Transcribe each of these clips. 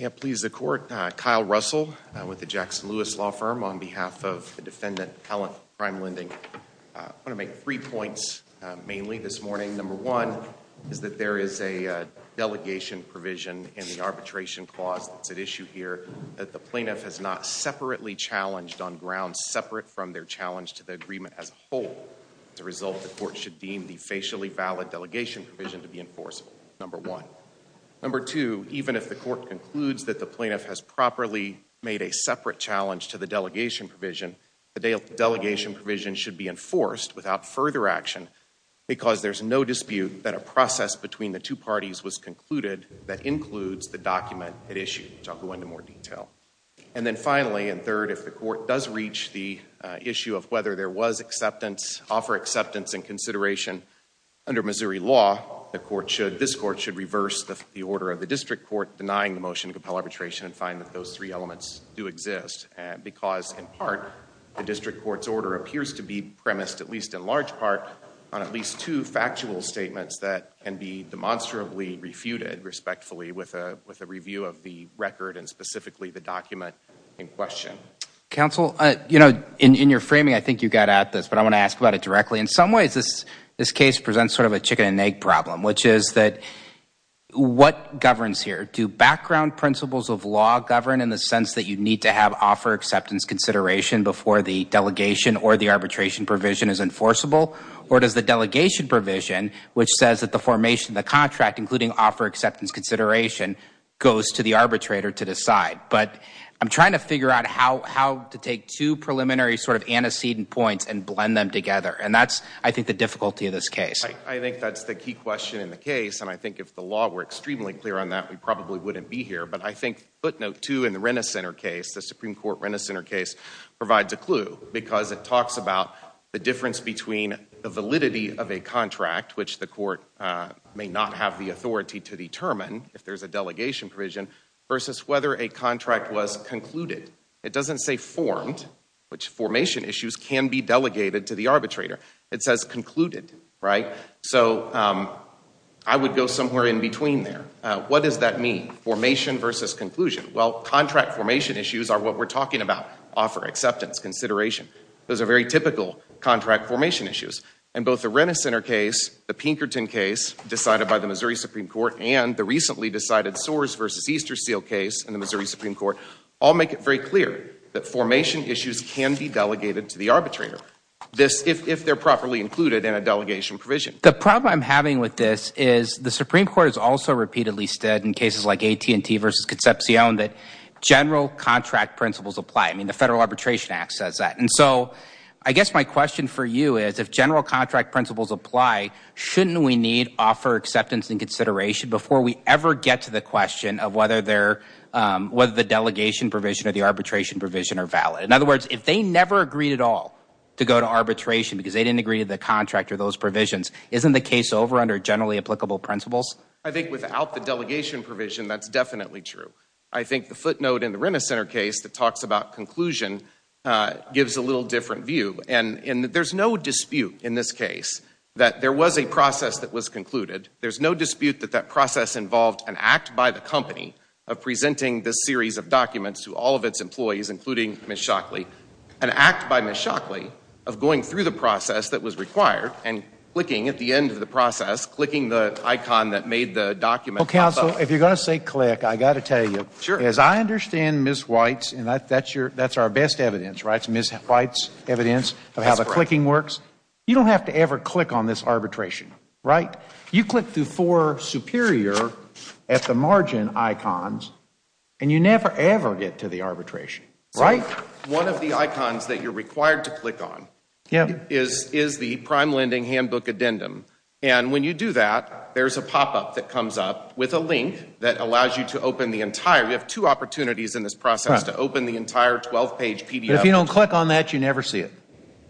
Yeah, please the court Kyle Russell with the Jackson Lewis law firm on behalf of the defendant Helen prime lending I'm gonna make three points mainly this morning number one is that there is a Delegation provision in the arbitration clause that's at issue here that the plaintiff has not separately Challenged on grounds separate from their challenge to the agreement as a whole The result the court should deem the facially valid delegation provision to be enforceable number one Number two, even if the court concludes that the plaintiff has properly made a separate challenge to the delegation provision The delegation provision should be enforced without further action Because there's no dispute that a process between the two parties was concluded that includes the document at issue I'll go into more detail and then finally in third if the court does reach the issue of whether there was acceptance offer acceptance and consideration Under Missouri law the court should this court should reverse the order of the district court denying the motion to compel arbitration and find that those three elements do Exist and because in part the district court's order appears to be premised at least in large part on at least two factual statements that can be demonstrably refuted Respectfully with a with a review of the record and specifically the document in question Counsel, you know in in your framing I think you got at this but I want to ask about it directly in some ways this this case presents sort of a chicken-and-egg problem, which is that What governs here do background principles of law govern in the sense that you need to have offer acceptance? Consideration before the delegation or the arbitration provision is enforceable or does the delegation provision? Which says that the formation the contract including offer acceptance consideration goes to the arbitrator to decide But I'm trying to figure out how how to take two Preliminary sort of antecedent points and blend them together and that's I think the difficulty of this case I think that's the key question in the case and I think if the law were extremely clear on that We probably wouldn't be here But I think footnote two in the Renner Center case the Supreme Court Renner Center case Provides a clue because it talks about the difference between the validity of a contract which the court May not have the authority to determine if there's a delegation provision versus whether a contract was concluded It doesn't say formed which formation issues can be delegated to the arbitrator. It says concluded, right? So I Would go somewhere in between there. What does that mean formation versus conclusion? Well contract formation issues are what we're talking about offer acceptance consideration Those are very typical contract formation issues and both the Renner Center case the Pinkerton case Decided by the Missouri Supreme Court and the recently decided sores versus Easterseal case in the Missouri Supreme Court I'll make it very clear that formation issues can be delegated to the arbitrator This if they're properly included in a delegation provision the problem I'm having with this is the Supreme Court is also repeatedly stood in cases like AT&T versus Concepcion that General contract principles apply I mean the Federal Arbitration Act says that and so I guess my question for you is if general contract principles apply Shouldn't we need offer acceptance and consideration before we ever get to the question of whether they're Whether the delegation provision or the arbitration provision are valid in other words if they never agreed at all To go to arbitration because they didn't agree to the contract or those provisions isn't the case over under generally applicable principles I think without the delegation provision. That's definitely true. I think the footnote in the Renner Center case that talks about conclusion Gives a little different view and in that there's no dispute in this case that there was a process that was concluded There's no dispute that that process involved an act by the company of presenting this series of documents to all of its employees including Miss Shockley an Act by Miss Shockley of going through the process that was required and clicking at the end of the process Clicking the icon that made the document counsel if you're gonna say click I got to tell you sure as I understand Miss White's and that's that's your that's our best evidence, right? It's Miss White's evidence of how the clicking works. You don't have to ever click on this arbitration, right? You click through for superior at the margin icons And you never ever get to the arbitration right one of the icons that you're required to click on Is is the prime lending handbook addendum and when you do that There's a pop-up that comes up with a link that allows you to open the entire We have two opportunities in this process to open the entire 12 page PDF If you don't click on that, you never see it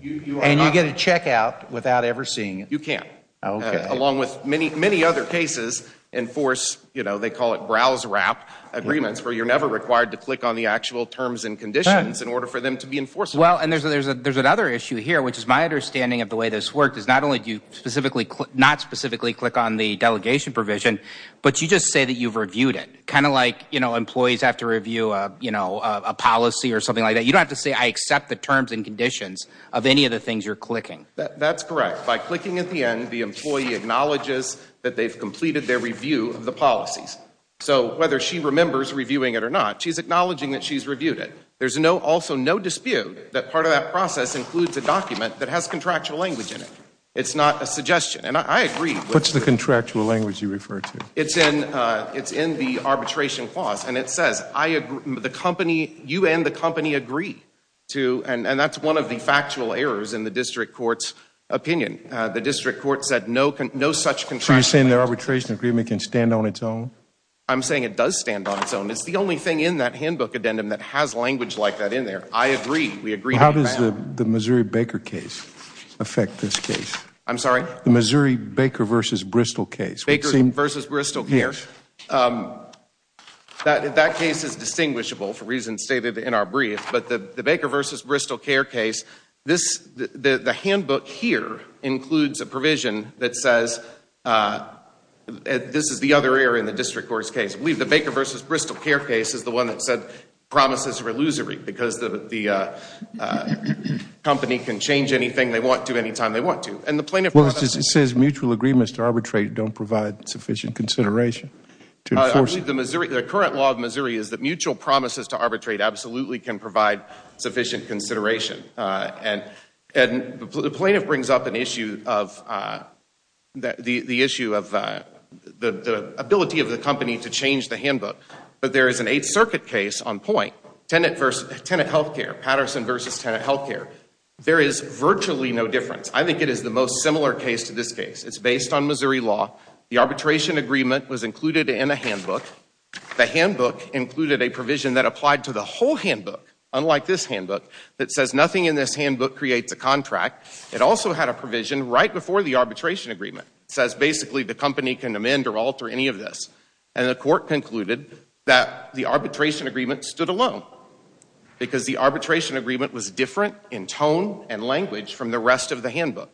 and you get a check out without ever seeing you can't Along with many many other cases and force, you know They call it browse wrap Agreements where you're never required to click on the actual terms and conditions in order for them to be enforced Well, and there's a there's a there's another issue here Which is my understanding of the way this work does not only do you specifically click not specifically click on the delegation provision? But you just say that you've reviewed it kind of like, you know employees have to review You know a policy or something like that You don't have to say I accept the terms and conditions of any of the things you're clicking That's correct by clicking at the end. The employee acknowledges that they've completed their review of the policies So whether she remembers reviewing it or not, she's acknowledging that she's reviewed it There's no also no dispute that part of that process includes a document that has contractual language in it It's not a suggestion and I agree what's the contractual language you refer to it's in It's in the arbitration clause and it says I agree the company you and the company agree To and and that's one of the factual errors in the district courts opinion The district court said no can no such contract. So you're saying their arbitration agreement can stand on its own I'm saying it does stand on its own. It's the only thing in that handbook addendum that has language like that in there I agree. We agree. How does the the Missouri Baker case? Affect this case. I'm sorry, the Missouri Baker versus Bristol case Baker versus Bristol here That that case is distinguishable for reasons stated in our brief but the the Baker versus Bristol care case this the the handbook here includes a provision that says And this is the other area in the district court's case I believe the Baker versus Bristol care case is the one that said promises are illusory because the the Company can change anything they want to any time they want to and the plaintiff says mutual agreements to arbitrate don't provide sufficient consideration Actually, the Missouri the current law of Missouri is that mutual promises to arbitrate absolutely can provide sufficient consideration and and the plaintiff brings up an issue of The the issue of the Ability of the company to change the handbook But there is an Eighth Circuit case on point tenant versus tenant health care Patterson versus tenant health care There is virtually no difference. I think it is the most similar case to this case It's based on Missouri law. The arbitration agreement was included in a handbook The handbook included a provision that applied to the whole handbook Unlike this handbook that says nothing in this handbook creates a contract it also had a provision right before the arbitration agreement says basically the company can amend or alter any of this and the court Concluded that the arbitration agreement stood alone Because the arbitration agreement was different in tone and language from the rest of the handbook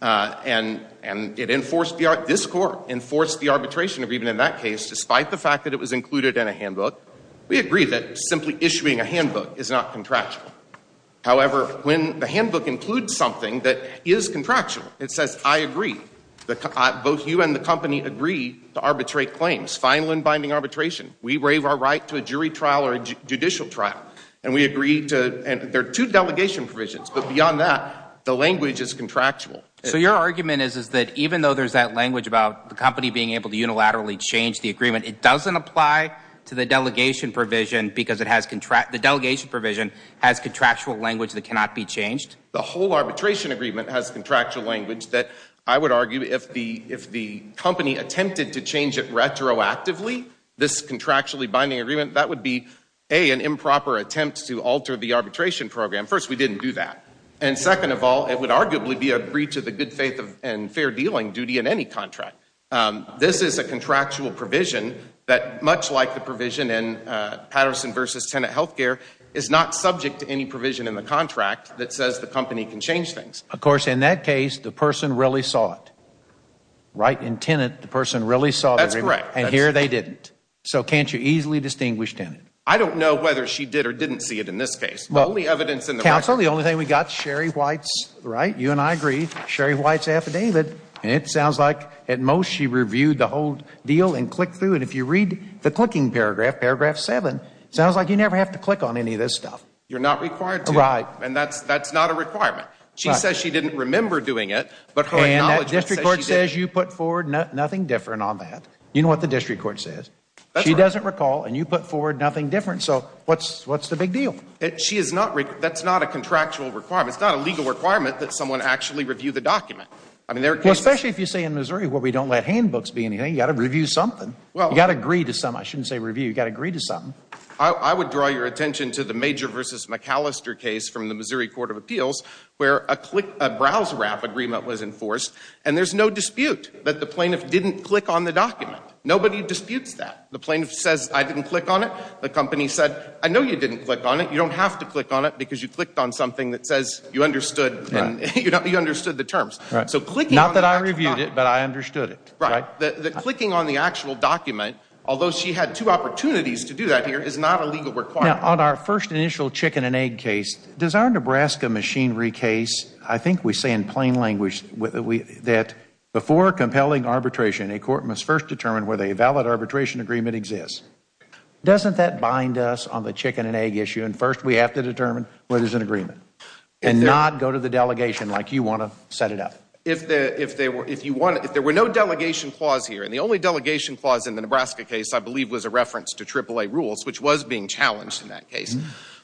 And and it enforced the art this court enforced the arbitration agreement in that case Despite the fact that it was included in a handbook. We agree that simply issuing a handbook is not contractual That is contractual it says I agree Both you and the company agree to arbitrate claims final and binding arbitration We waive our right to a jury trial or judicial trial and we agree to and there are two delegation provisions But beyond that the language is contractual So your argument is is that even though there's that language about the company being able to unilaterally change the agreement? It doesn't apply to the delegation provision because it has contract the delegation provision has contractual language That cannot be changed The whole arbitration agreement has contractual language that I would argue if the if the company attempted to change it Retroactively this contractually binding agreement that would be a an improper attempt to alter the arbitration program first We didn't do that. And second of all, it would arguably be a breach of the good faith of and fair dealing duty in any contract This is a contractual provision that much like the provision in Patterson versus tenant health care is not subject to any provision in the contract that says the company can change things Of course in that case the person really saw it Right in tenant. The person really saw that's right and here they didn't so can't you easily distinguished in it? I don't know whether she did or didn't see it in this case Well the evidence in the council the only thing we got Sherry White's right you and I agreed Sherry White's affidavit And it sounds like at most she reviewed the whole deal and clicked through and if you read the clicking paragraph paragraph 7 Sounds like you never have to click on any of this stuff. You're not required to write and that's that's not a requirement She says she didn't remember doing it But her district court says you put forward nothing different on that. You know what the district court says She doesn't recall and you put forward nothing different. So what's what's the big deal? She is not Rick That's not a contractual requirement. It's not a legal requirement that someone actually review the document I mean there especially if you say in Missouri where we don't let handbooks be anything you got to review something Well, you got to agree to some I shouldn't say review you got to agree to something I would draw your attention to the major versus McAllister case from the Missouri Court of Appeals Where a click a browse wrap agreement was enforced and there's no dispute that the plaintiff didn't click on the document Nobody disputes that the plaintiff says I didn't click on it. The company said I know you didn't click on it You don't have to click on it because you clicked on something that says you understood You know, you understood the terms, right? Clicking on the actual document Although she had two opportunities to do that here is not a legal requirement on our first initial chicken and egg case Does our Nebraska machinery case? I think we say in plain language with that before compelling arbitration a court must first determine whether a valid arbitration agreement exists Doesn't that bind us on the chicken and egg issue and first we have to determine where there's an agreement And not go to the delegation like you want to set it up If there were no delegation clause here and the only delegation clause in the Nebraska case I believe was a reference to triple-a rules, which was being challenged in that case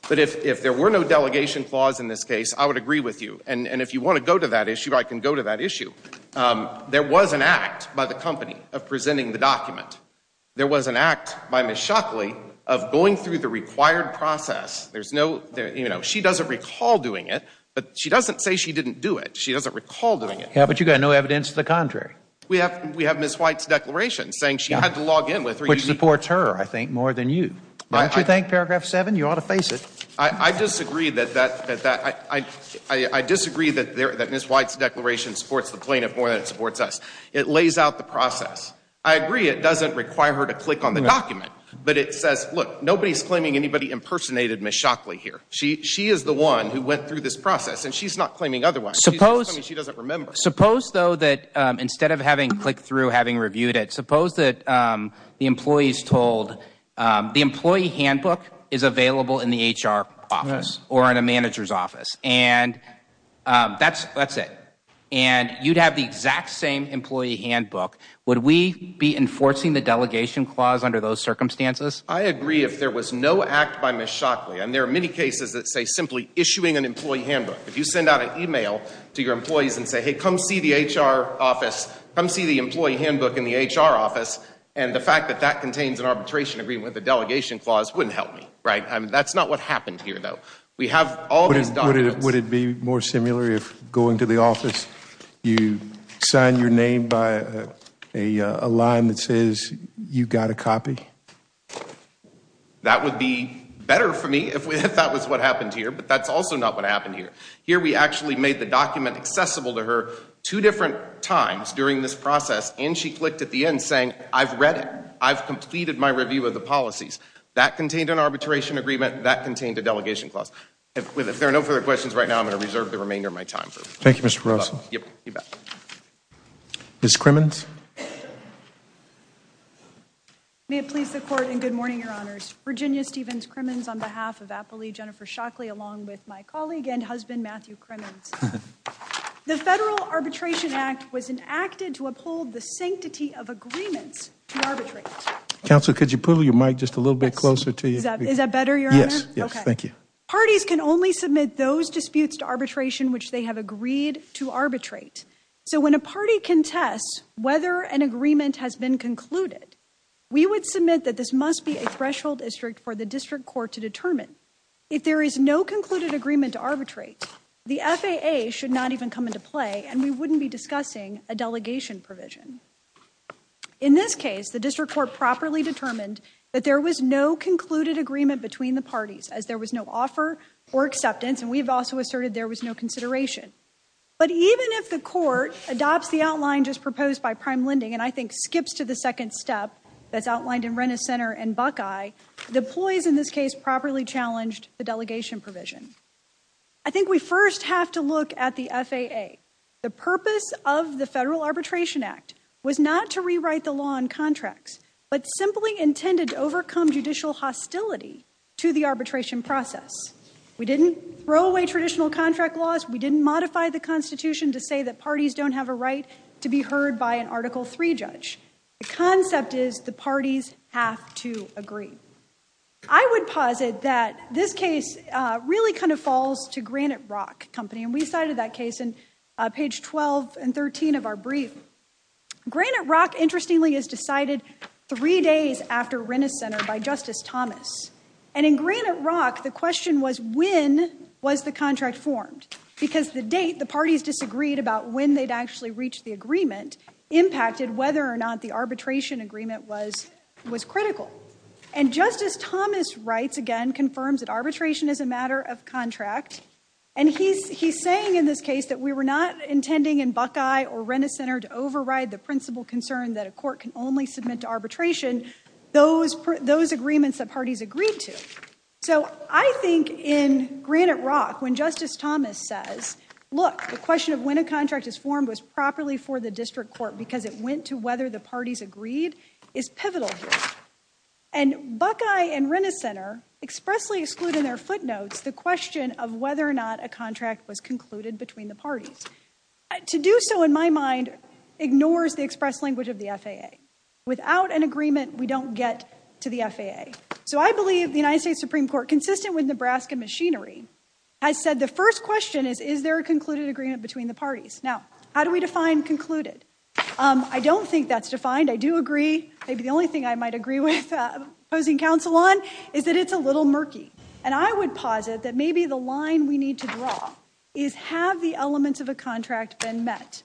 But if there were no delegation clause in this case, I would agree with you And and if you want to go to that issue, I can go to that issue There was an act by the company of presenting the document There was an act by Ms. Shockley of going through the required process There's no there, you know, she doesn't recall doing it, but she doesn't say she didn't do it She doesn't recall doing it. Yeah, but you got no evidence to the contrary We have we have miss White's declaration saying she had to log in with which supports her I think more than you might you think paragraph 7 you ought to face it. I Disagree that that that I I I disagree that there that miss White's declaration supports the plaintiff more than it supports us It lays out the process. I agree. It doesn't require her to click on the document But it says look nobody's claiming anybody impersonated miss Shockley here She is the one who went through this process and she's not claiming otherwise suppose suppose though that instead of having clicked through having reviewed it suppose that the employees told the employee handbook is available in the HR office or in a manager's office and That's that's it. And you'd have the exact same employee handbook Would we be enforcing the delegation clause under those circumstances? I agree if there was no act by miss Shockley And there are many cases that say simply issuing an employee handbook If you send out an email to your employees and say hey come see the HR office Come see the employee handbook in the HR office and the fact that that contains an arbitration agreement with the delegation clause wouldn't help me Right, and that's not what happened here, though We have all these would it be more similar if going to the office you sign your name by a Line that says you got a copy That would be better for me if we thought was what happened here, but that's also not what happened here here We actually made the document accessible to her two different times during this process and she clicked at the end saying I've read it I've completed my review of the policies that contained an arbitration agreement that contained a delegation clause With if there are no further questions right now, I'm going to reserve the remainder of my time Thank You. Mr. Russell Miss Crimmins May It please the court and good morning, Your Honors, Virginia Stevens Crimmins on behalf of Appley Jennifer Shockley along with my colleague and husband Matthew Crimmins The federal arbitration act was enacted to uphold the sanctity of agreements Counsel could you pull your mic just a little bit closer to you? Is that better? Yes. Yes. Thank you Parties can only submit those disputes to arbitration which they have agreed to arbitrate So when a party contests whether an agreement has been concluded We would submit that this must be a threshold district for the district court to determine if there is no concluded agreement to arbitrate The FAA should not even come into play and we wouldn't be discussing a delegation provision In this case the district court properly determined that there was no concluded agreement between the parties as there was no offer or acceptance And we've also asserted there was no consideration But even if the court adopts the outline just proposed by prime lending and I think skips to the second step That's outlined in Renner Center and Buckeye the employees in this case properly challenged the delegation provision I think we first have to look at the FAA The purpose of the federal arbitration act was not to rewrite the law on contracts But simply intended to overcome judicial hostility to the arbitration process We didn't throw away traditional contract laws We didn't modify the Constitution to say that parties don't have a right to be heard by an article 3 judge The concept is the parties have to agree. I would posit that this case Really kind of falls to Granite Rock company and we cited that case in page 12 and 13 of our brief Granite Rock interestingly is decided three days after Renner Center by Justice Thomas and in Granite Rock The question was when was the contract formed because the date the parties disagreed about when they'd actually reached the agreement Impacted whether or not the arbitration agreement was was critical and Justice Thomas writes again confirms that arbitration is a matter of contract and He's he's saying in this case that we were not Intending in Buckeye or Renner Center to override the principal concern that a court can only submit to arbitration Those those agreements that parties agreed to so I think in Granite Rock when Justice Thomas says look the question of when a contract is formed was properly for the district court because it went to whether the parties agreed is pivotal here and Buckeye and Renner Center Expressly excluded in their footnotes the question of whether or not a contract was concluded between the parties to do so in my mind Ignores the express language of the FAA without an agreement We don't get to the FAA so I believe the United States Supreme Court consistent with Nebraska machinery Has said the first question is is there a concluded agreement between the parties now? How do we define concluded? I don't think that's defined. I do agree. Maybe the only thing I might agree with posing counsel on is that it's a little murky and I would posit that maybe the line we need to draw is have the elements of a contract been met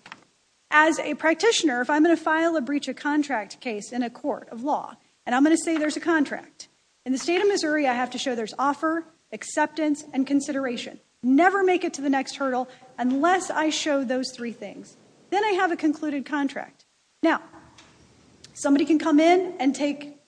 as Practitioner if I'm gonna file a breach a contract case in a court of law and I'm gonna say there's a contract in the state Of Missouri I have to show there's offer Acceptance and consideration never make it to the next hurdle unless I show those three things then I have a concluded contract now somebody can come in and take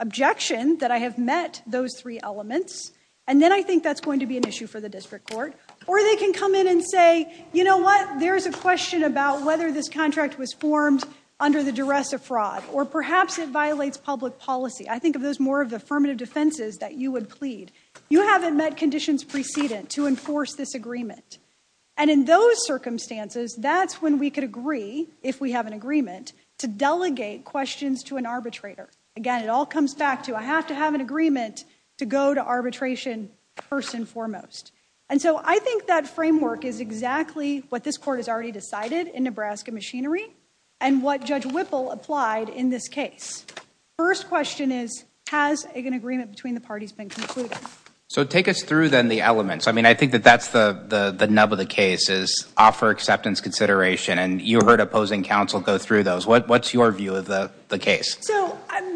objection that I have met those three elements and then I think that's going to be an issue for the district court or they can Come in and say, you know what? There's a question about whether this contract was formed under the duress of fraud or perhaps it violates public policy I think of those more of the affirmative defenses that you would plead you haven't met conditions precedent to enforce this agreement and in those Circumstances, that's when we could agree if we have an agreement to delegate questions to an arbitrator again It all comes back to I have to have an agreement to go to arbitration First and foremost and so I think that framework is exactly what this court has already decided in Nebraska machinery and What judge Whipple applied in this case? First question is has an agreement between the parties been concluded. So take us through then the elements I mean, I think that that's the the the nub of the case is offer acceptance consideration and you heard opposing counsel go through those What what's your view of the the case?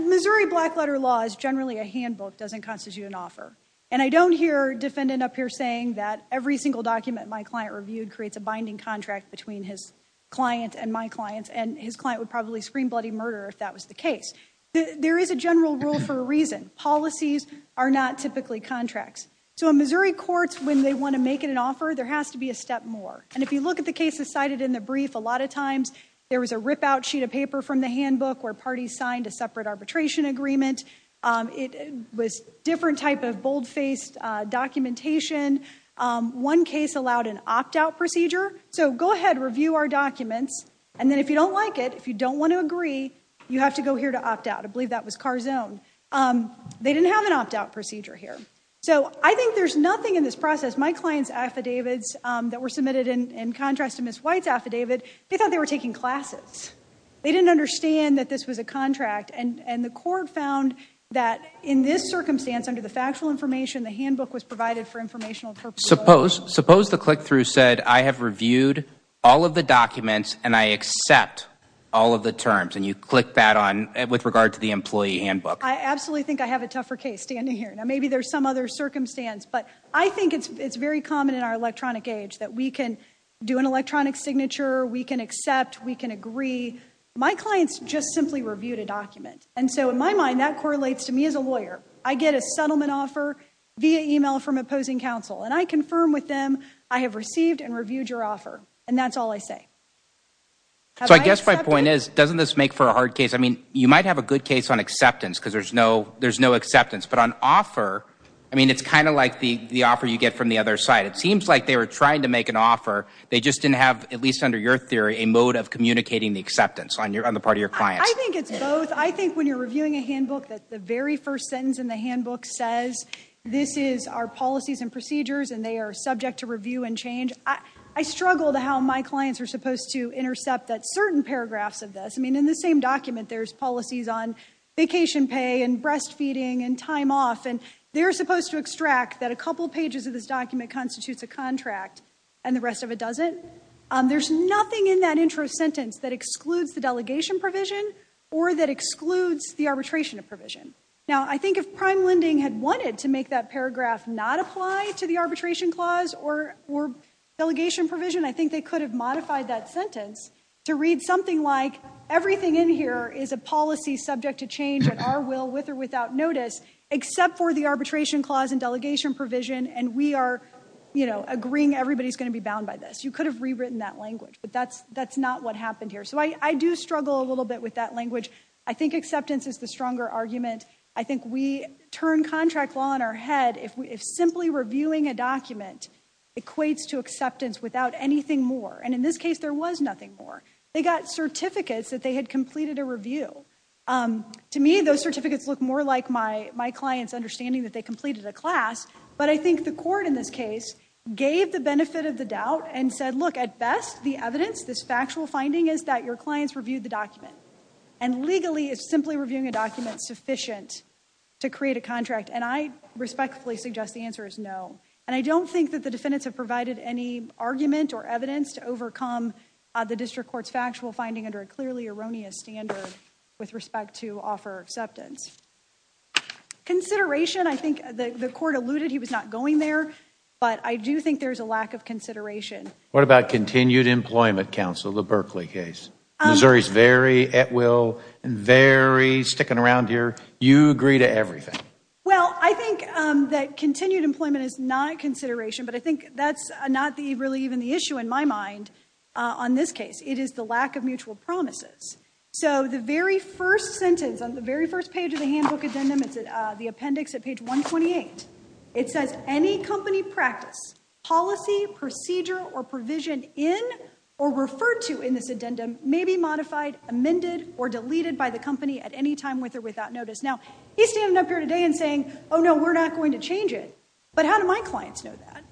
Missouri black letter law is generally a handbook doesn't constitute an offer and I don't hear defendant up here saying that every single document My client reviewed creates a binding contract between his Client and my clients and his client would probably scream bloody murder if that was the case There is a general rule for a reason policies are not typically contracts So in Missouri courts when they want to make it an offer there has to be a step more and if you look at the cases Cited in the brief a lot of times there was a ripout sheet of paper from the handbook where parties signed a separate arbitration agreement It was different type of bold-faced documentation One case allowed an opt-out procedure So go ahead review our documents and then if you don't like it if you don't want to agree You have to go here to opt out. I believe that was car zone They didn't have an opt-out procedure here So, I think there's nothing in this process my clients affidavits that were submitted in contrast to miss white's affidavit They thought they were taking classes They didn't understand that this was a contract and and the court found That in this circumstance under the factual information the handbook was provided for informational purpose Suppose suppose the click-through said I have reviewed all of the documents and I accept All of the terms and you click that on with regard to the employee handbook I absolutely think I have a tougher case standing here. Now, maybe there's some other circumstance But I think it's very common in our electronic age that we can do an electronic signature We can accept we can agree my clients just simply reviewed a document And so in my mind that correlates to me as a lawyer I get a settlement offer via email from opposing counsel and I confirm with them I have received and reviewed your offer and that's all I say So I guess my point is doesn't this make for a hard case? I mean you might have a good case on acceptance because there's no there's no acceptance but on offer I mean, it's kind of like the the offer you get from the other side It seems like they were trying to make an offer They just didn't have at least under your theory a mode of communicating the acceptance on your on the part of your client I think it's both I think when you're reviewing a handbook that the very first sentence in the handbook says This is our policies and procedures and they are subject to review and change I struggle to how my clients are supposed to intercept that certain paragraphs of this I mean in the same document, there's policies on vacation pay and breastfeeding and time off And they're supposed to extract that a couple pages of this document constitutes a contract and the rest of it doesn't There's nothing in that intro sentence that excludes the delegation provision or that excludes the arbitration of provision now, I think if prime lending had wanted to make that paragraph not apply to the arbitration clause or Delegation provision, I think they could have modified that sentence to read something like Everything in here is a policy subject to change at our will with or without notice Except for the arbitration clause and delegation provision and we are you know, agreeing everybody's going to be bound by this You could have rewritten that language, but that's that's not what happened here. So I do struggle a little bit with that language I think acceptance is the stronger argument I think we turn contract law on our head if we if simply reviewing a document Equates to acceptance without anything more and in this case, there was nothing more. They got certificates that they had completed a review To me those certificates look more like my my clients understanding that they completed a class But I think the court in this case gave the benefit of the doubt and said look at best the evidence this factual finding is that your clients reviewed the document and Legally is simply reviewing a document sufficient to create a contract and I respectfully suggest the answer is no And I don't think that the defendants have provided any argument or evidence to overcome The district courts factual finding under a clearly erroneous standard with respect to offer acceptance Consideration I think the court alluded he was not going there, but I do think there's a lack of consideration What about continued employment counsel the Berkeley case? Missouri's very at will and very sticking around here. You agree to everything Well, I think that continued employment is not consideration But I think that's not the really even the issue in my mind on this case It is the lack of mutual promises. So the very first sentence on the very first page of the handbook addendum It's at the appendix at page 128 It says any company practice policy procedure or provision in or referred to in this addendum May be modified amended or deleted by the company at any time with or without notice now He's standing up here today and saying oh, no, we're not going to change it. But how do my clients know that?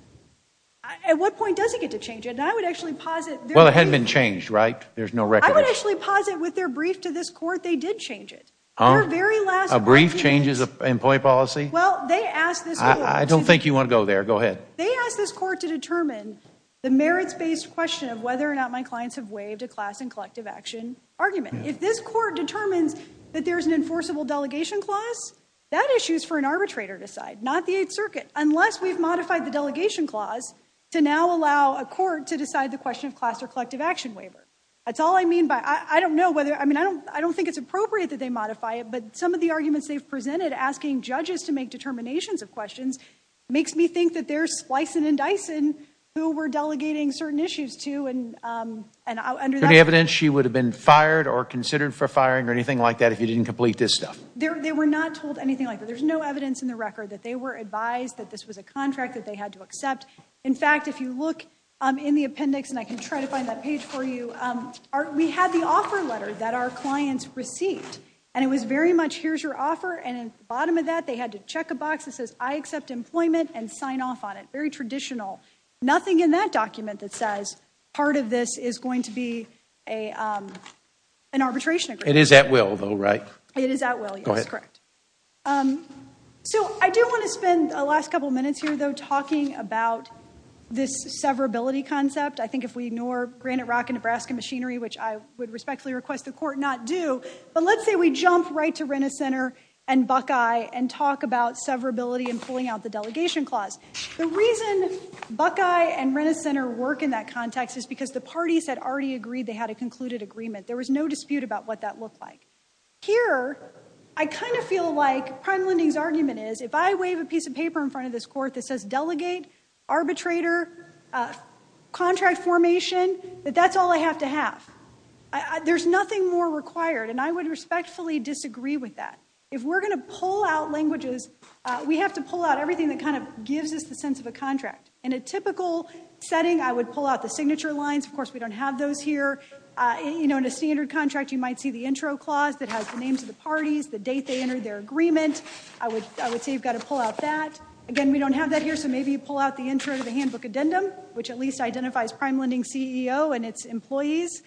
At what point does he get to change it? I would actually posit. Well, it hadn't been changed, right? There's no record actually posit with their brief to this court. They did change it Oh very last a brief changes of employee policy. Well, they asked this. I don't think you want to go there Go ahead They asked this court to determine The merits based question of whether or not my clients have waived a class and collective action Argument if this court determines that there's an enforceable delegation clause That issues for an arbitrator to side not the 8th Circuit unless we've modified the delegation clause To now allow a court to decide the question of class or collective action waiver That's all I mean by I don't know whether I mean I don't I don't think it's appropriate that they modify it But some of the arguments they've presented asking judges to make determinations of questions makes me think that they're splicing and dicing who were delegating certain issues to and Any evidence she would have been fired or considered for firing or anything like that if you didn't complete this stuff They were not told anything like that There's no evidence in the record that they were advised that this was a contract that they had to accept In fact, if you look in the appendix and I can try to find that page for you We had the offer letter that our clients received and it was very much Here's your offer and bottom of that they had to check a box that says I accept employment and sign off on it That would be a an arbitration. It is at will though, right? It is at will. Yes, correct So I do want to spend a last couple minutes here though talking about This severability concept. I think if we ignore Granite Rock and Nebraska machinery, which I would respectfully request the court not do But let's say we jump right to Renner Center and Buckeye and talk about severability and pulling out the delegation clause The reason Buckeye and Renner Center work in that context is because the parties had already agreed they had a concluded agreement There was no dispute about what that looked like Here I kind of feel like prime lending's argument is if I wave a piece of paper in front of this court that says delegate arbitrator Contract formation, but that's all I have to have There's nothing more required and I would respectfully disagree with that if we're gonna pull out languages We have to pull out everything that kind of gives us the sense of a contract. In a typical setting I would pull out the signature lines. Of course, we don't have those here You know in a standard contract you might see the intro clause that has the names of the parties, the date they entered their agreement I would I would say you've got to pull out that. Again, we don't have that here So maybe you pull out the intro to the handbook addendum Which at least identifies prime lending CEO and its employees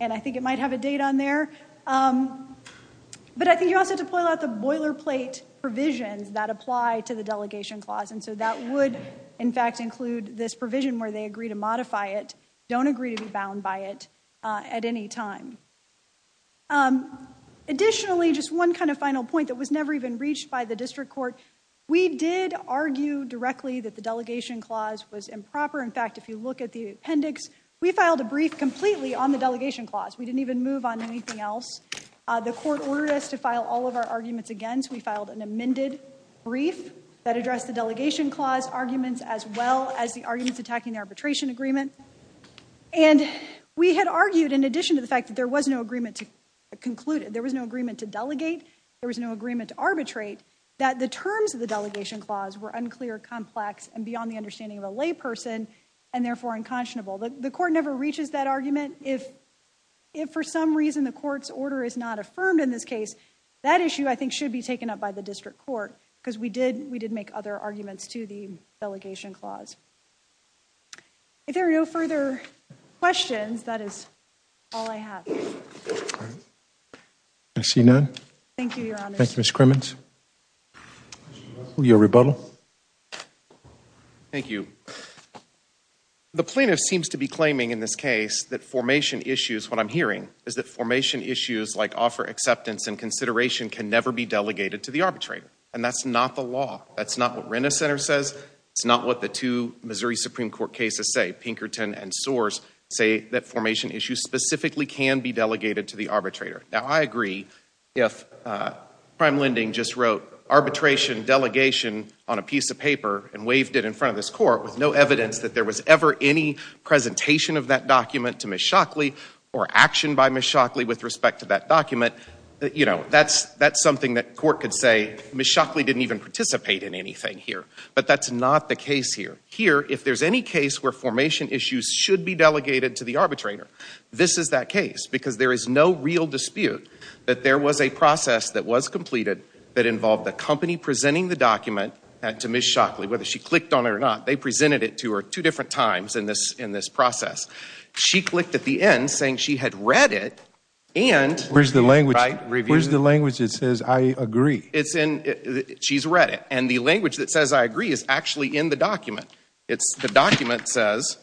and I think it might have a date on there But I think you also have to pull out the boilerplate Provisions that apply to the delegation clause and so that would in fact include this provision where they agree to modify it Don't agree to be bound by it at any time Additionally just one kind of final point that was never even reached by the district court We did argue directly that the delegation clause was improper In fact, if you look at the appendix, we filed a brief completely on the delegation clause We didn't even move on anything else The court ordered us to file all of our arguments against we filed an amended brief that addressed the delegation clause arguments as well as the arguments attacking the arbitration agreement and We had argued in addition to the fact that there was no agreement to conclude it. There was no agreement to delegate There was no agreement to arbitrate that the terms of the delegation clause were unclear complex and beyond the understanding of a layperson and therefore unconscionable the court never reaches that argument if If for some reason the court's order is not affirmed in this case that issue I think should be taken up by the district court because we did we did make other arguments to the delegation clause If there are no further questions, that is all I have I see none. Thank you, your honor. Thank you, Ms. Crimmins. Will you rebuttal? Thank you The plaintiff seems to be claiming in this case that formation issues What I'm hearing is that formation issues like offer acceptance and consideration can never be delegated to the arbitrator and that's not the law That's not what Renner Center says It's not what the two Missouri Supreme Court cases say Pinkerton and Soars say that formation issues Specifically can be delegated to the arbitrator now. I agree if Prime Lending just wrote arbitration delegation on a piece of paper and waved it in front of this court with no evidence that there was ever any Presentation of that document to Ms. Shockley or action by Ms. Shockley with respect to that document You know, that's that's something that court could say Ms. Shockley didn't even participate in anything here But that's not the case here here If there's any case where formation issues should be delegated to the arbitrator This is that case because there is no real dispute that there was a process that was completed that involved the company Presenting the document and to Ms. Shockley whether she clicked on it or not They presented it to her two different times in this in this process She clicked at the end saying she had read it and where's the language right reviews the language. It says I agree It's in she's read it and the language that says I agree is actually in the document. It's the document says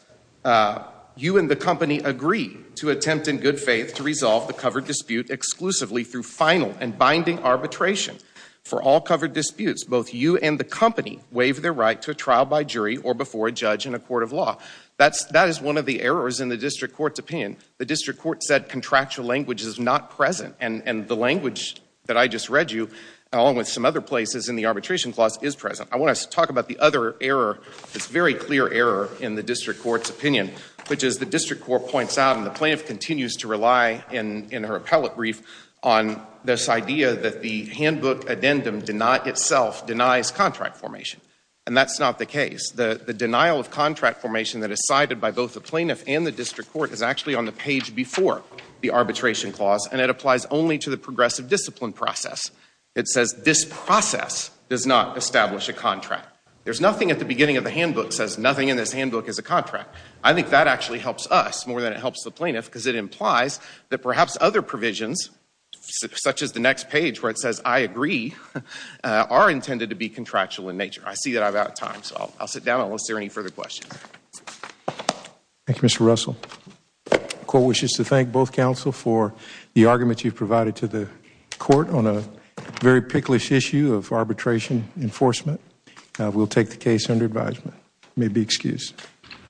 You and the company agree to attempt in good faith to resolve the covered dispute exclusively through final and binding arbitration For all covered disputes both you and the company waive their right to a trial by jury or before a judge in a court of law That's that is one of the errors in the district courts opinion The district court said contractual language is not present and and the language that I just read you Along with some other places in the arbitration clause is present I want us to talk about the other error It's very clear error in the district courts opinion Which is the district court points out and the plaintiff continues to rely in in her appellate brief on This idea that the handbook addendum did not itself denies contract formation And that's not the case the the denial of contract formation that is cited by both the plaintiff and the district court is actually on The page before the arbitration clause and it applies only to the progressive discipline process It says this process does not establish a contract There's nothing at the beginning of the handbook says nothing in this handbook is a contract I think that actually helps us more than it helps the plaintiff because it implies that perhaps other provisions Such as the next page where it says I agree Are intended to be contractual in nature. I see that I've out of time. So I'll sit down unless there any further questions Thank You, mr. Russell Court wishes to thank both counsel for the argument you've provided to the court on a very picklist issue of arbitration Enforcement will take the case under advisement may be excused